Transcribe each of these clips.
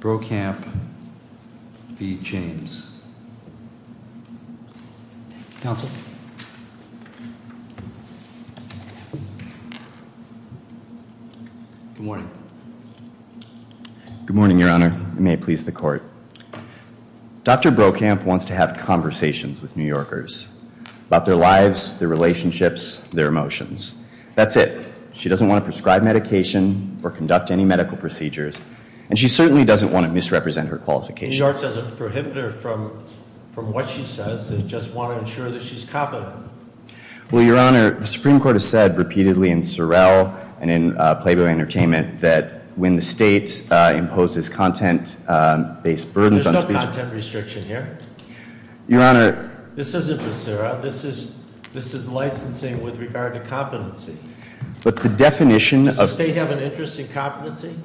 Good morning, your honor. May it please the court. Dr. Brokamp wants to have conversations with New Yorkers about their lives, their relationships, their emotions. That's it. She doesn't want to prescribe medication or conduct any medical procedures, and she certainly doesn't want to misrepresent her qualifications. New York says it's a prohibitor from what she says. They just want to ensure that she's competent. Well, your honor, the Supreme Court has said repeatedly in Sorrell and in Playboy Entertainment that when the state imposes content-based burdens on speakers... There's no content restriction here. Your honor... This isn't for Sarah. This is licensing with regard to competency. But the definition of... Does the state have an interest in competency?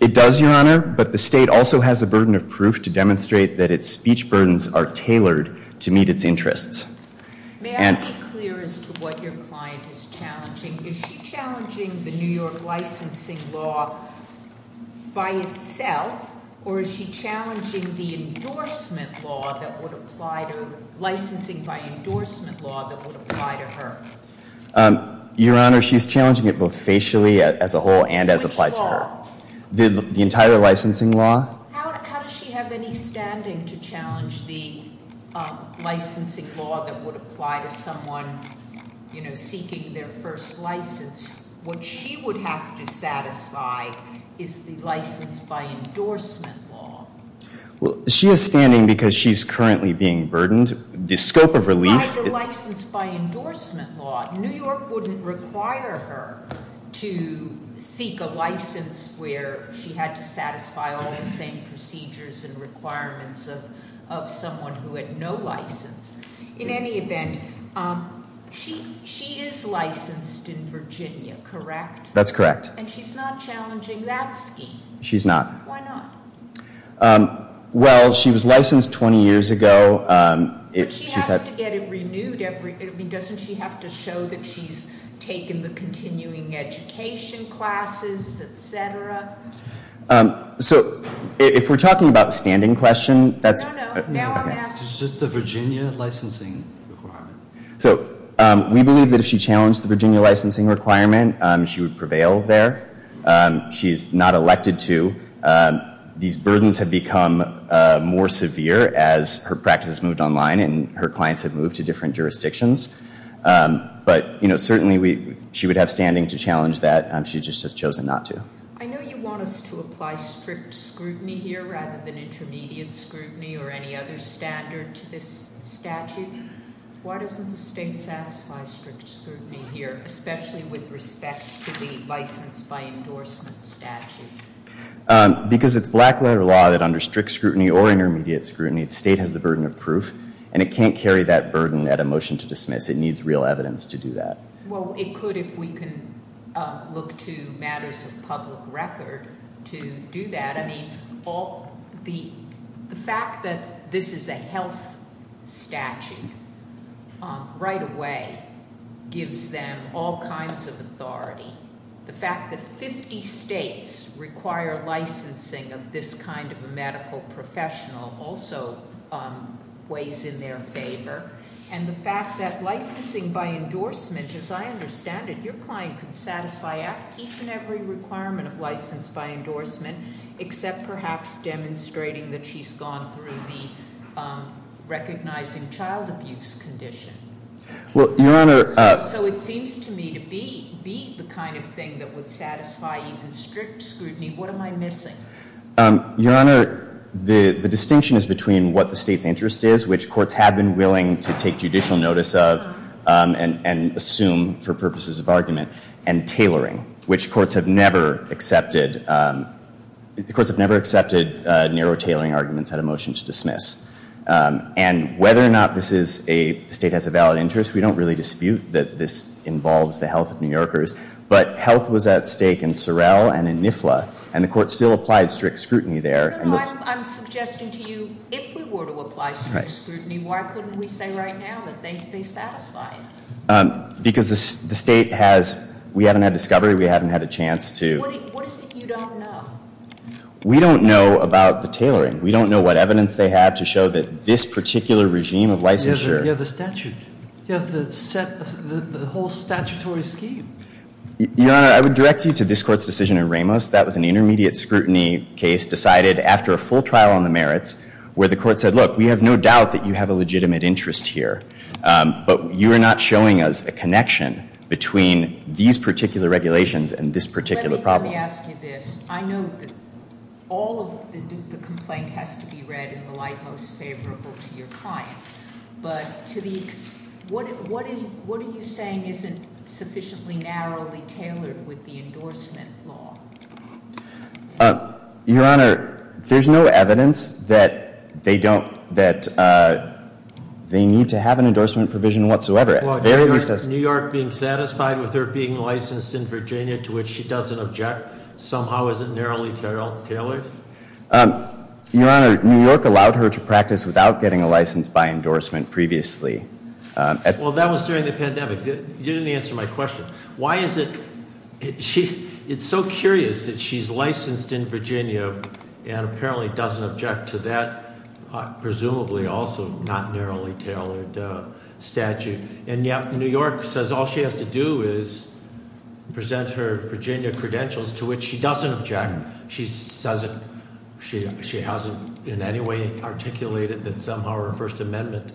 It does, your honor, but the state also has a burden of proof to demonstrate that its speech burdens are tailored to meet its interests. May I be clear as to what your client is challenging? Is she challenging the New York licensing law by itself, or is she challenging the endorsement law that would apply to her? Your honor, she's challenging it both facially as a whole and as applied to her. Which law? The entire licensing law. How does she have any standing to challenge the licensing law that would apply to someone, you know, seeking their first license? What she would have to satisfy is the license by endorsement law. Well, she is standing because she's currently being burdened. The scope of relief... New York wouldn't require her to seek a license where she had to satisfy all the same procedures and requirements of someone who had no license. In any event, she is licensed in Virginia, correct? That's correct. And she's not challenging that scheme? She's not. Why not? Well, she was licensed 20 years ago. But she has to get it renewed every... I mean, doesn't she have to show that she's taken the continuing education classes, etc.? So, if we're talking about standing question, that's... No, no. Now I'm asking... It's just the Virginia licensing requirement. So, we believe that if she challenged the Virginia licensing requirement, she would prevail there. She's not elected to. These burdens have become more severe as her practice moved online and her clients have moved to different jurisdictions. But, you know, certainly she would have standing to challenge that. She just has chosen not to. I know you want us to apply strict scrutiny here rather than intermediate scrutiny or any other standard to this statute. Why doesn't the state satisfy strict scrutiny here, especially with respect to the licensed by endorsement statute? Because it's black letter law that under strict scrutiny or intermediate scrutiny, the state has the burden of proof. And it can't carry that burden at a motion to dismiss. It needs real evidence to do that. Well, it could if we can look to matters of public record to do that. I mean, the fact that this is a health statute right away gives them all kinds of authority. The fact that 50 states require licensing of this kind of a medical professional also weighs in their favor. And the fact that licensing by endorsement, as I understand it, your client can satisfy each and every requirement of license by endorsement, except perhaps demonstrating that she's gone through the recognizing child abuse condition. Well, Your Honor. So it seems to me to be the kind of thing that would satisfy even strict scrutiny. What am I missing? Your Honor, the distinction is between what the state's interest is, which courts have been willing to take judicial notice of and assume for purposes of argument, and tailoring, which courts have never accepted. The courts have never accepted narrow tailoring arguments at a motion to dismiss. And whether or not the state has a valid interest, we don't really dispute that this involves the health of New Yorkers. But health was at stake in Sorrell and in NIFLA. And the court still applied strict scrutiny there. Your Honor, I'm suggesting to you, if we were to apply strict scrutiny, why couldn't we say right now that they satisfy it? Because the state has, we haven't had discovery, we haven't had a chance to. What is it you don't know? We don't know about the tailoring. We don't know what evidence they have to show that this particular regime of licensure. You have the statute. You have the whole statutory scheme. Your Honor, I would direct you to this court's decision in Ramos. That was an intermediate scrutiny case decided after a full trial on the merits where the court said, look, we have no doubt that you have a legitimate interest here. But you are not showing us a connection between these particular regulations and this particular problem. Let me ask you this. I know that all of the complaint has to be read in the light most favorable to your client. But what are you saying isn't sufficiently narrowly tailored with the endorsement law? Your Honor, there's no evidence that they need to have an endorsement provision whatsoever. New York being satisfied with her being licensed in Virginia, to which she doesn't object, somehow isn't narrowly tailored? Your Honor, New York allowed her to practice without getting a license by endorsement previously. Well, that was during the pandemic. You didn't answer my question. Why is it, it's so curious that she's licensed in Virginia and apparently doesn't object to that presumably also not narrowly tailored statute. And yet New York says all she has to do is present her Virginia credentials to which she doesn't object. And she says it, she hasn't in any way articulated that somehow her First Amendment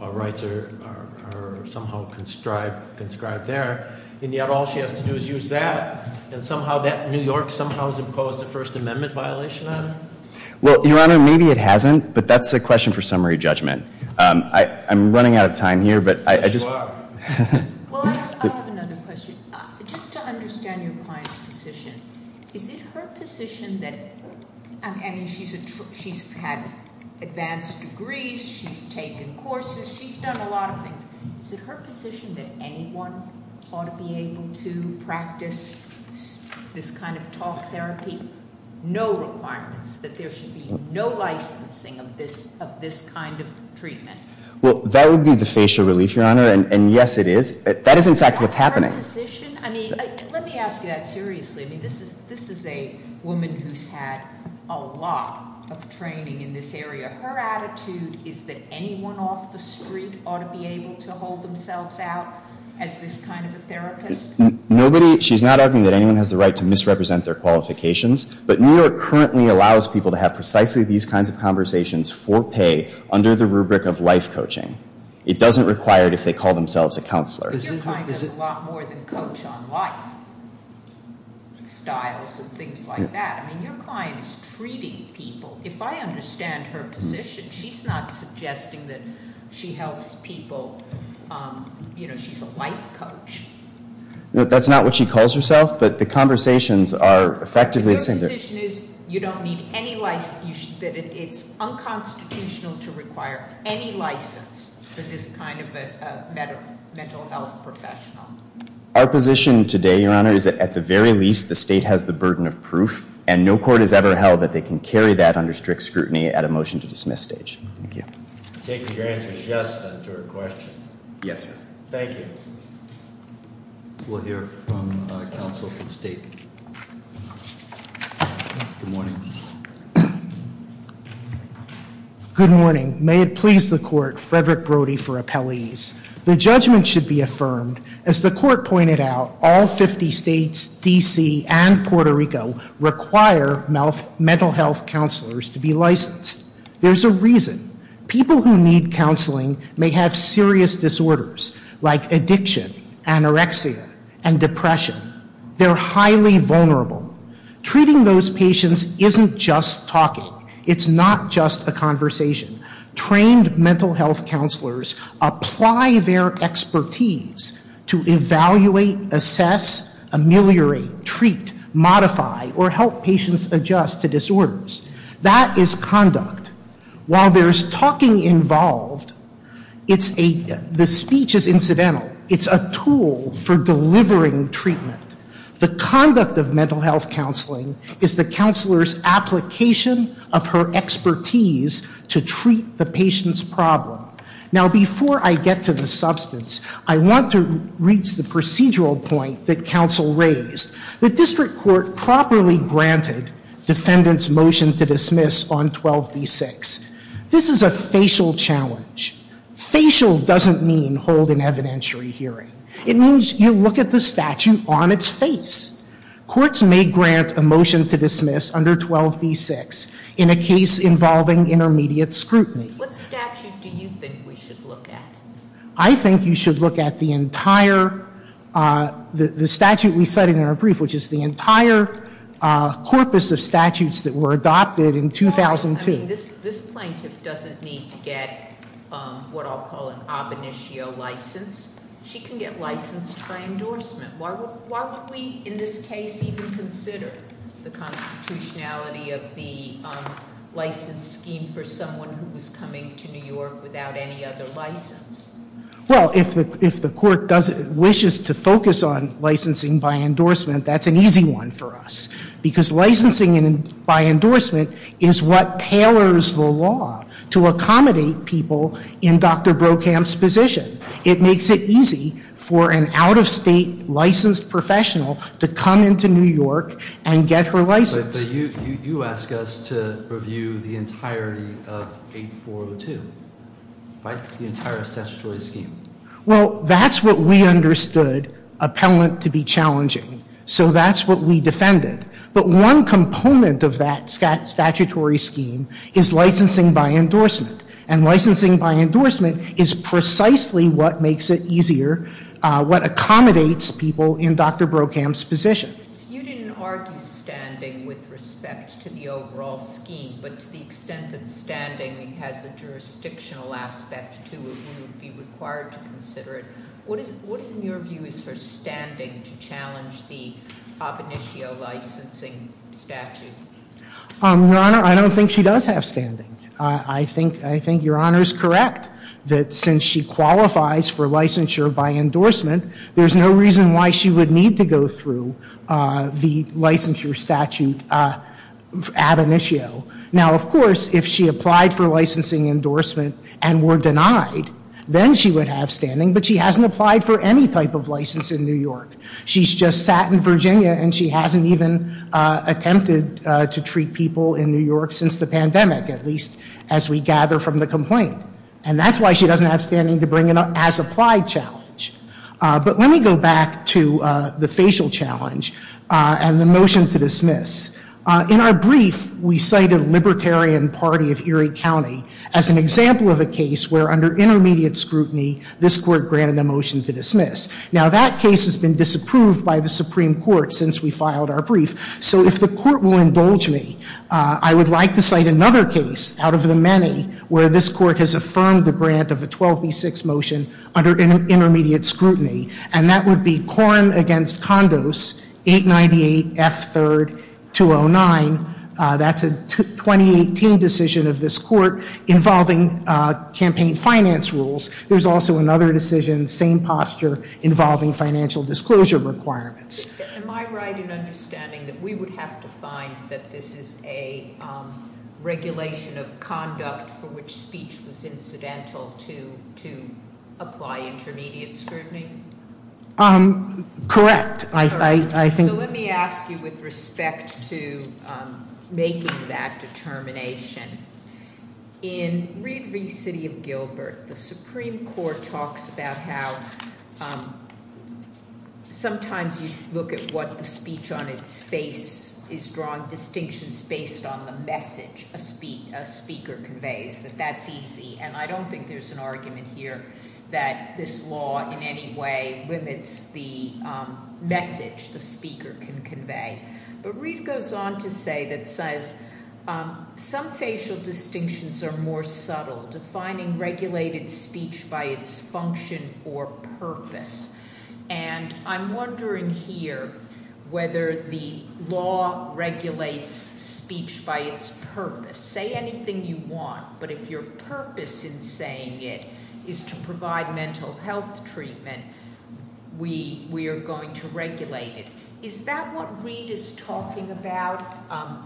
rights are somehow conscribed there. And yet all she has to do is use that. And somehow that New York somehow has imposed a First Amendment violation on her. Well, Your Honor, maybe it hasn't, but that's a question for summary judgment. I'm running out of time here, but I just- You are. Well, I have another question. Just to understand your client's position, is it her position that, I mean, she's had advanced degrees, she's taken courses, she's done a lot of things. Is it her position that anyone ought to be able to practice this kind of talk therapy? No requirements, that there should be no licensing of this kind of treatment. Well, that would be the facial relief, Your Honor, and yes, it is. That is, in fact, what's happening. Is it her position? I mean, let me ask you that seriously. I mean, this is a woman who's had a lot of training in this area. Her attitude is that anyone off the street ought to be able to hold themselves out as this kind of a therapist? Nobody, she's not arguing that anyone has the right to misrepresent their qualifications. But New York currently allows people to have precisely these kinds of conversations for pay under the rubric of life coaching. It doesn't require it if they call themselves a counselor. Your client does a lot more than coach on life, styles and things like that. I mean, your client is treating people. If I understand her position, she's not suggesting that she helps people, she's a life coach. That's not what she calls herself, but the conversations are effectively saying that- For this kind of a mental health professional. Our position today, Your Honor, is that at the very least, the state has the burden of proof. And no court has ever held that they can carry that under strict scrutiny at a motion to dismiss stage. Thank you. I take your answer as yes, then, to her question. Yes, sir. Thank you. We'll hear from counsel from state. Good morning. Good morning. May it please the court, Frederick Brody for appellees. The judgment should be affirmed. As the court pointed out, all 50 states, DC, and Puerto Rico require mental health counselors to be licensed. There's a reason. People who need counseling may have serious disorders like addiction, anorexia, and depression. They're highly vulnerable. Treating those patients isn't just talking. It's not just a conversation. Trained mental health counselors apply their expertise to evaluate, assess, ameliorate, treat, modify, or help patients adjust to disorders. That is conduct. While there's talking involved, the speech is incidental. It's a tool for delivering treatment. The conduct of mental health counseling is the counselor's application of her expertise to treat the patient's problem. Now, before I get to the substance, I want to reach the procedural point that counsel raised. The district court properly granted defendant's motion to dismiss on 12B6. This is a facial challenge. Facial doesn't mean hold an evidentiary hearing. It means you look at the statute on its face. Courts may grant a motion to dismiss under 12B6 in a case involving intermediate scrutiny. What statute do you think we should look at? I think you should look at the entire, the statute we cited in our brief, which is the entire corpus of statutes that were adopted in 2002. This plaintiff doesn't need to get what I'll call an ab initio license. She can get licensed by endorsement. Why would we, in this case, even consider the constitutionality of the license scheme for someone who was coming to New York without any other license? Well, if the court wishes to focus on licensing by endorsement, that's an easy one for us. Because licensing by endorsement is what tailors the law to accommodate people in Dr. Brokamp's position. It makes it easy for an out of state licensed professional to come into New York and get her license. But you ask us to review the entirety of 8402, right? The entire statutory scheme. Well, that's what we understood appellant to be challenging. So that's what we defended. But one component of that statutory scheme is licensing by endorsement. And licensing by endorsement is precisely what makes it easier, what accommodates people in Dr. Brokamp's position. You didn't argue standing with respect to the overall scheme. But to the extent that standing has a jurisdictional aspect to it, we would be required to consider it. What is in your view is for standing to challenge the ab initio licensing statute? I think your Honor is correct that since she qualifies for licensure by endorsement, there's no reason why she would need to go through the licensure statute ab initio. Now, of course, if she applied for licensing endorsement and were denied, then she would have standing. But she hasn't applied for any type of license in New York. She's just sat in Virginia and she hasn't even attempted to treat people in New York since the pandemic. At least as we gather from the complaint. And that's why she doesn't have standing to bring an as applied challenge. But let me go back to the facial challenge and the motion to dismiss. In our brief, we cited Libertarian Party of Erie County as an example of a case where under intermediate scrutiny, this court granted a motion to dismiss. Now that case has been disapproved by the Supreme Court since we filed our brief. So if the court will indulge me, I would like to cite another case out of the many where this court has affirmed the grant of a 12B6 motion under intermediate scrutiny. And that would be Quorum Against Condos, 898F3-209. That's a 2018 decision of this court involving campaign finance rules. There's also another decision, same posture, involving financial disclosure requirements. Am I right in understanding that we would have to find that this is a regulation of conduct for which speech was incidental to apply intermediate scrutiny? Correct, I think- So let me ask you with respect to making that determination. In Reed v. City of Gilbert, the Supreme Court talks about how sometimes you look at what the speech on its face is drawing distinctions based on the message a speaker conveys, that that's easy. And I don't think there's an argument here that this law in any way limits the message the speaker can convey. But Reed goes on to say that says, some facial distinctions are more subtle, defining regulated speech by its function or purpose. And I'm wondering here whether the law regulates speech by its purpose. Say anything you want, but if your purpose in saying it is to provide mental health treatment, we are going to regulate it. Is that what Reed is talking about?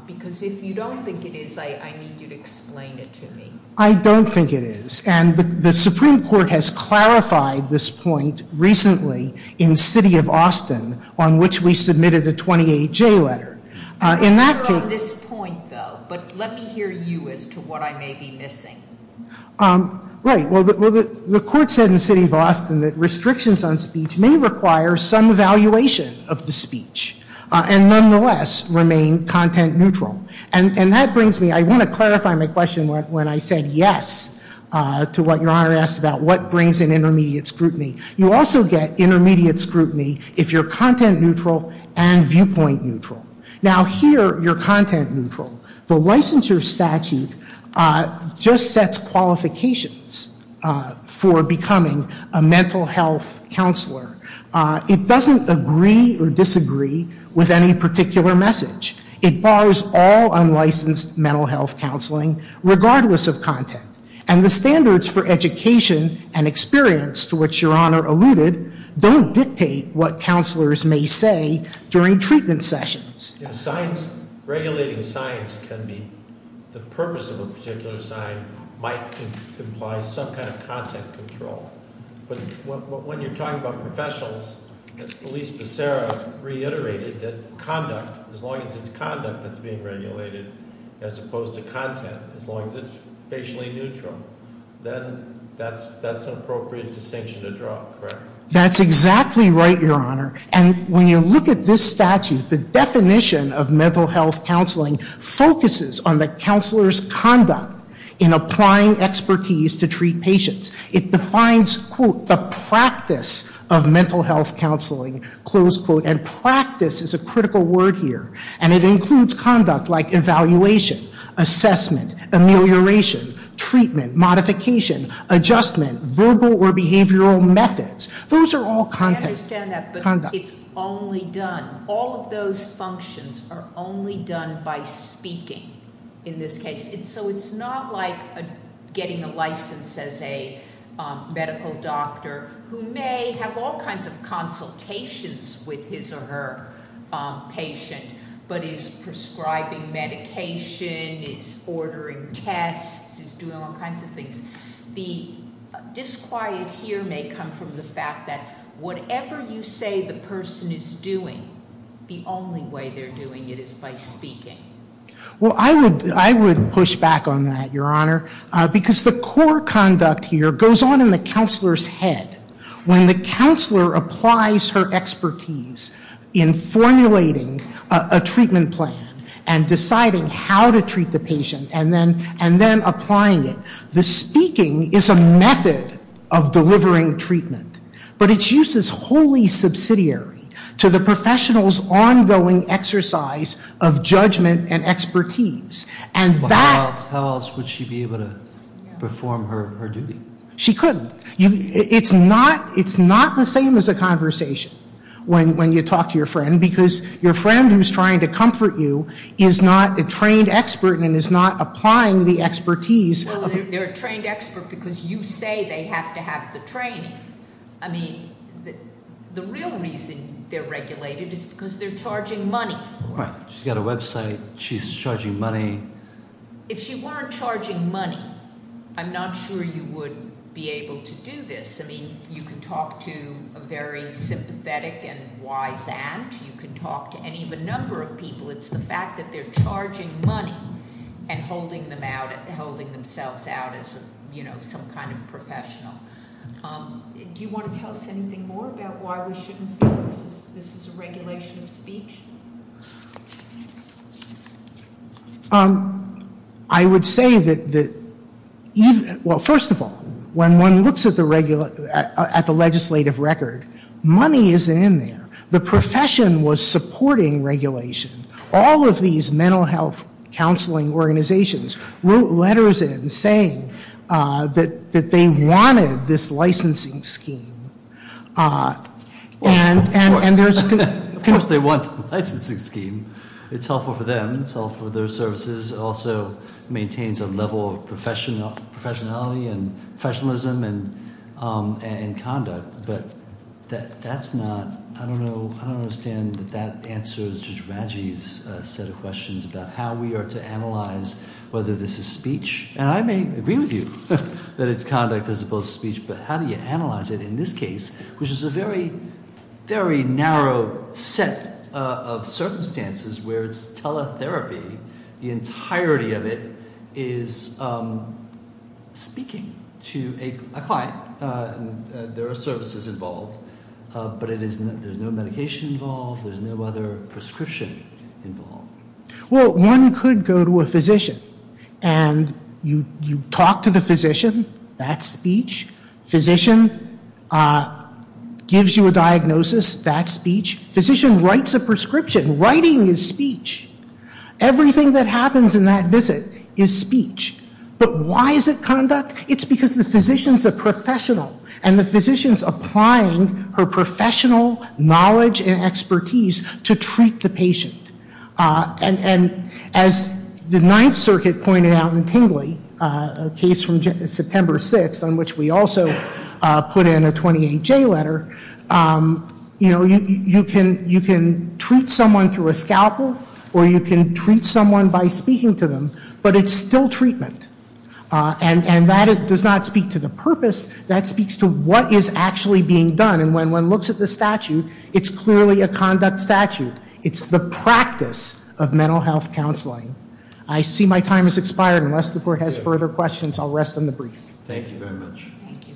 Because if you don't think it is, I need you to explain it to me. I don't think it is, and the Supreme Court has clarified this point recently in City of Austin, on which we submitted a 28-J letter. In that case- I think we're on this point, though, but let me hear you as to what I may be missing. Right, well, the court said in City of Austin that restrictions on speech may require some evaluation of the speech. And nonetheless, remain content neutral. And that brings me- I want to clarify my question when I said yes to what Your Honor asked about what brings in intermediate scrutiny. You also get intermediate scrutiny if you're content neutral and viewpoint neutral. Now here, you're content neutral. The licensure statute just sets qualifications for becoming a mental health counselor. It doesn't agree or disagree with any particular message. It bars all unlicensed mental health counseling, regardless of content. And the standards for education and experience, to which Your Honor alluded, don't dictate what counselors may say during treatment sessions. Regulating science can be, the purpose of a particular sign might imply some kind of content control. But when you're talking about professionals, at least Becerra reiterated that conduct, as long as it's conduct that's being regulated as opposed to content, as long as it's facially neutral. Then that's an appropriate distinction to draw, correct? That's exactly right, Your Honor. And when you look at this statute, the definition of mental health counseling focuses on the counselor's conduct in applying expertise to treat patients. It defines, quote, the practice of mental health counseling, close quote. And practice is a critical word here. And it includes conduct like evaluation, assessment, amelioration, treatment, modification, adjustment, verbal or behavioral methods. Those are all conduct. I understand that, but it's only done, all of those functions are only done by speaking. In this case, so it's not like getting a license as a medical doctor who may have all kinds of consultations with his or her patient. But is prescribing medication, is ordering tests, is doing all kinds of things. The disquiet here may come from the fact that whatever you say the person is doing, the only way they're doing it is by speaking. Well, I would push back on that, Your Honor, because the core conduct here goes on in the counselor's head. When the counselor applies her expertise in formulating a treatment plan and deciding how to treat the patient and then applying it, the speaking is a method of delivering treatment. But its use is wholly subsidiary to the professional's ongoing exercise of judgment and expertise, and that- How else would she be able to perform her duty? She couldn't. It's not the same as a conversation when you talk to your friend, because your friend who's trying to comfort you is not a trained expert and is not applying the expertise. Well, they're a trained expert because you say they have to have the training. I mean, the real reason they're regulated is because they're charging money for it. Right. She's got a website. She's charging money. If she weren't charging money, I'm not sure you would be able to do this. I mean, you can talk to a very sympathetic and wise aunt. You can talk to any of a number of people. It's the fact that they're charging money and holding themselves out as some kind of professional. Do you want to tell us anything more about why we shouldn't feel this is a regulation of speech? I would say that, well, first of all, when one looks at the legislative record, money isn't in there. The profession was supporting regulation. All of these mental health counseling organizations wrote letters in saying that they wanted this licensing scheme. And there's- Of course they want the licensing scheme. It's helpful for them, it's helpful for their services. It also maintains a level of professionality and professionalism and conduct. But that's not, I don't know, I don't understand that that answers Judge Raggi's set of questions about how we are to analyze whether this is speech. And I may agree with you that it's conduct as opposed to speech, but how do you analyze it in this case, which is a very, very narrow set of circumstances where it's teletherapy. The entirety of it is speaking to a client. There are services involved, but there's no medication involved, there's no other prescription involved. Well, one could go to a physician and you talk to the physician, that's speech. Physician gives you a diagnosis, that's speech. Physician writes a prescription, writing is speech. Everything that happens in that visit is speech. But why is it conduct? It's because the physician's a professional, and the physician's applying her professional knowledge and expertise to treat the patient. And as the Ninth Circuit pointed out in Tingley, a case from September 6th, on which we also put in a 28J letter. You can treat someone through a scalpel, or you can treat someone by speaking to them, but it's still treatment. And that does not speak to the purpose, that speaks to what is actually being done. And when one looks at the statute, it's clearly a conduct statute. It's the practice of mental health counseling. I see my time has expired, unless the court has further questions, I'll rest on the brief. Thank you very much. Thank you.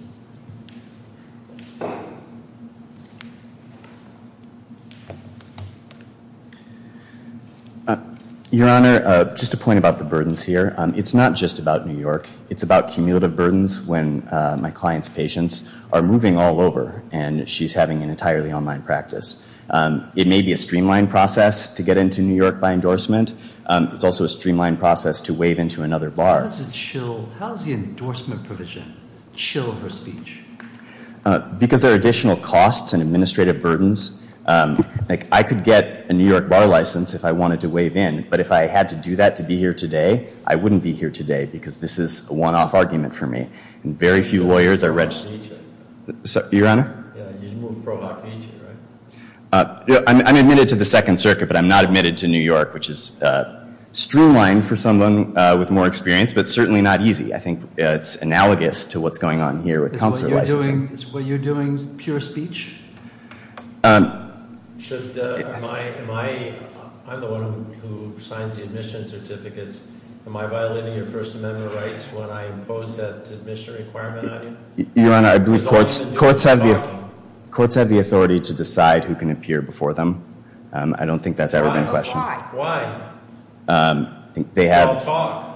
Your Honor, just a point about the burdens here. It's not just about New York, it's about cumulative burdens when my client's patients are moving all over, and she's having an entirely online practice. It may be a streamlined process to get into New York by endorsement, it's also a streamlined process to waive into another bar. How does the endorsement provision chill her speech? Because there are additional costs and administrative burdens. I could get a New York bar license if I wanted to waive in, but if I had to do that to be here today, I wouldn't be here today because this is a one-off argument for me, and very few lawyers are registered. Pro hoc feature. Your Honor? Yeah, you'd move pro hoc feature, right? I'm admitted to the Second Circuit, but I'm not admitted to New York, which is streamlined for someone with more experience, but certainly not easy. I think it's analogous to what's going on here with counselor licensing. Were you doing pure speech? Should my, I'm the one who signs the admission certificates. Am I violating your First Amendment rights when I impose that admission requirement on you? Your Honor, I believe courts have the authority to decide who can appear before them. I don't think that's ever been questioned. Why? They have- Don't talk.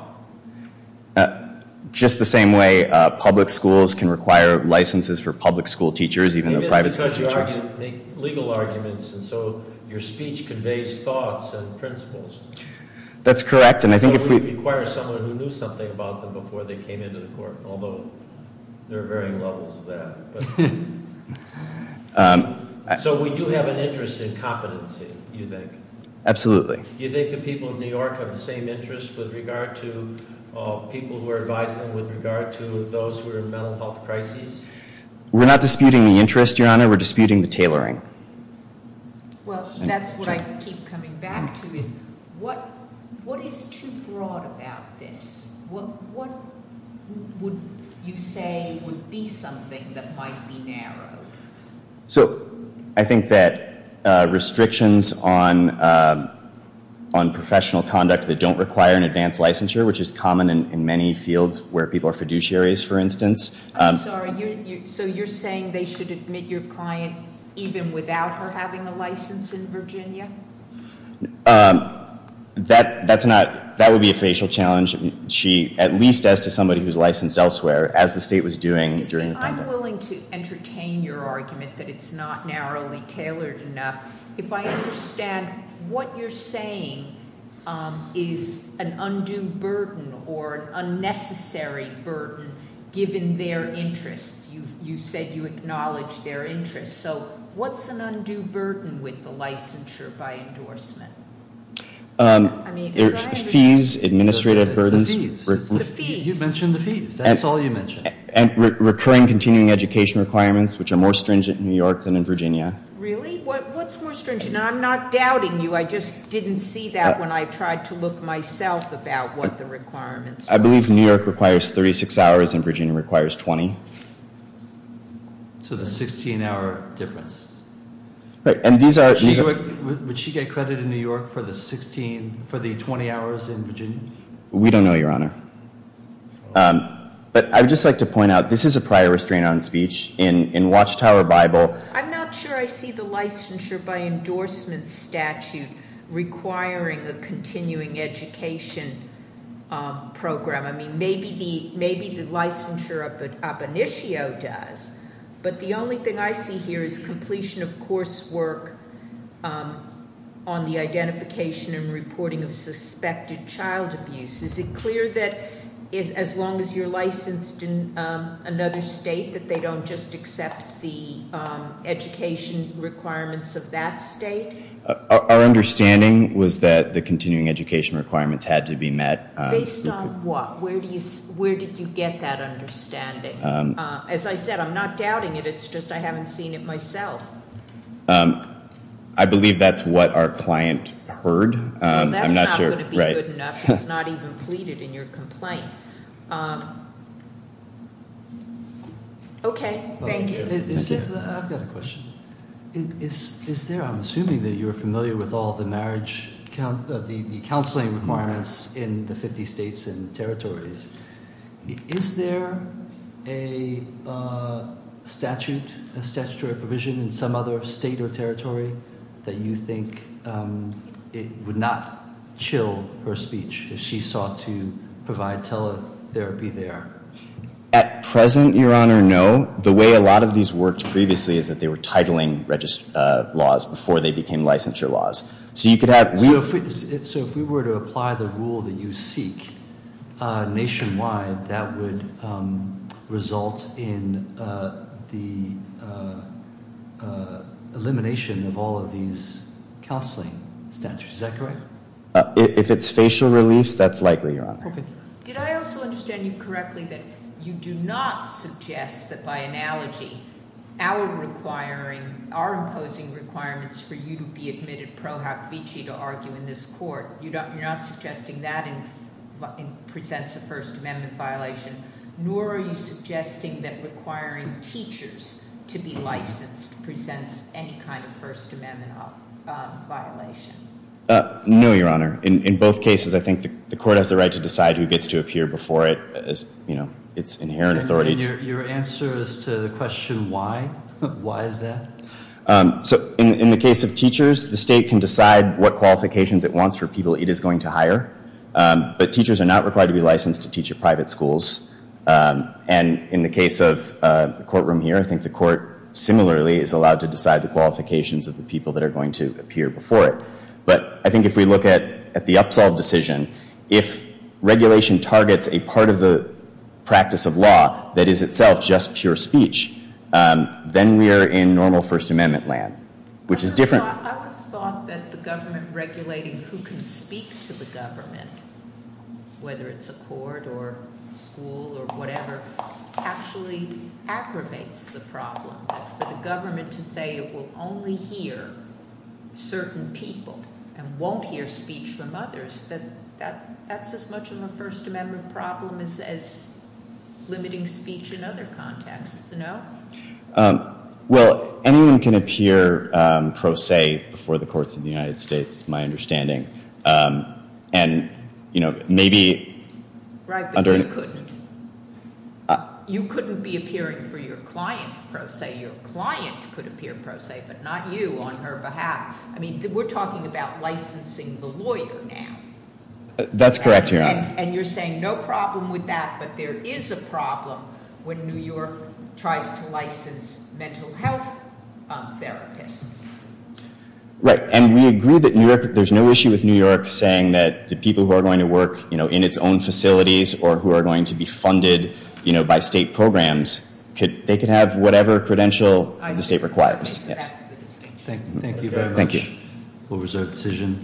Just the same way public schools can require licenses for public school teachers, even though private school teachers- Maybe it's because you make legal arguments, and so your speech conveys thoughts and principles. That's correct, and I think if we- So we require someone who knew something about them before they came into the court, although there are varying levels of that. So we do have an interest in competency, you think? Absolutely. You think the people of New York have the same interest with regard to people who are advising with regard to those who are in mental health crises? We're not disputing the interest, Your Honor, we're disputing the tailoring. Well, that's what I keep coming back to is, what is too broad about this? What would you say would be something that might be narrowed? So, I think that restrictions on professional conduct that don't require an advanced licensure, which is common in many fields where people are fiduciaries, for instance- I'm sorry, so you're saying they should admit your client even without her having a license in Virginia? That would be a facial challenge, at least as to somebody who's licensed elsewhere, as the state was doing during the- I'm willing to entertain your argument that it's not narrowly tailored enough. If I understand, what you're saying is an undue burden or an unnecessary burden given their interests. You said you acknowledge their interests. So what's an undue burden with the licensure by endorsement? I mean, as I understand- Fees, administrative burdens- It's the fees. It's the fees. You mentioned the fees, that's all you mentioned. Recurring continuing education requirements, which are more stringent in New York than in Virginia. Really? What's more stringent? And I'm not doubting you, I just didn't see that when I tried to look myself about what the requirements were. I believe New York requires 36 hours and Virginia requires 20. So the 16 hour difference. Right, and these are- Would she get credit in New York for the 20 hours in Virginia? We don't know, Your Honor. But I would just like to point out, this is a prior restraint on speech in Watchtower Bible. I'm not sure I see the licensure by endorsement statute requiring a continuing education program. I mean, maybe the licensure up in issue does. But the only thing I see here is completion of course work on the identification and reporting of suspected child abuse. Is it clear that as long as you're licensed in another state, that they don't just accept the education requirements of that state? Our understanding was that the continuing education requirements had to be met. Based on what? Where did you get that understanding? As I said, I'm not doubting it, it's just I haven't seen it myself. I believe that's what our client heard. I'm not sure- Completed in your complaint. Okay, thank you. I've got a question. Is there, I'm assuming that you're familiar with all the counseling requirements in the 50 states and territories. Is there a statutory provision in some other state or state laws to provide teletherapy there? At present, your honor, no. The way a lot of these worked previously is that they were titling laws before they became licensure laws. So you could have- So if we were to apply the rule that you seek nationwide, that would result in the elimination of all of these counseling statutes, is that correct? If it's facial relief, that's likely, your honor. Did I also understand you correctly that you do not suggest that by analogy, our imposing requirements for you to be admitted pro haft vici to argue in this court. You're not suggesting that presents a First Amendment violation, nor are you suggesting that requiring teachers to be licensed presents any kind of First Amendment violation? No, your honor. In both cases, I think the court has the right to decide who gets to appear before it. It's inherent authority to- Your answer is to the question why? Why is that? So in the case of teachers, the state can decide what qualifications it wants for people it is going to hire. But teachers are not required to be licensed to teach at private schools. And in the case of the courtroom here, I think the court similarly is allowed to But I think if we look at the up-solved decision, if regulation targets a part of the practice of law, that is itself just pure speech, then we are in normal First Amendment land, which is different. I would have thought that the government regulating who can speak to the government, whether it's a court or school or whatever, actually aggravates the problem. But for the government to say it will only hear certain people and won't hear speech from others, that's as much of a First Amendment problem as limiting speech in other contexts, no? Well, anyone can appear pro se before the courts of the United States, my understanding. And maybe- Right, but you couldn't. You couldn't be appearing for your client, per se. Your client could appear pro se, but not you on her behalf. I mean, we're talking about licensing the lawyer now. That's correct, Your Honor. And you're saying no problem with that, but there is a problem when New York tries to license mental health therapists. Right, and we agree that there's no issue with New York saying that the people who are going to work in its own facilities or who are going to be funded by state programs, they can have whatever credential the state requires. Yes. Thank you very much. Thank you. We'll reserve the decision.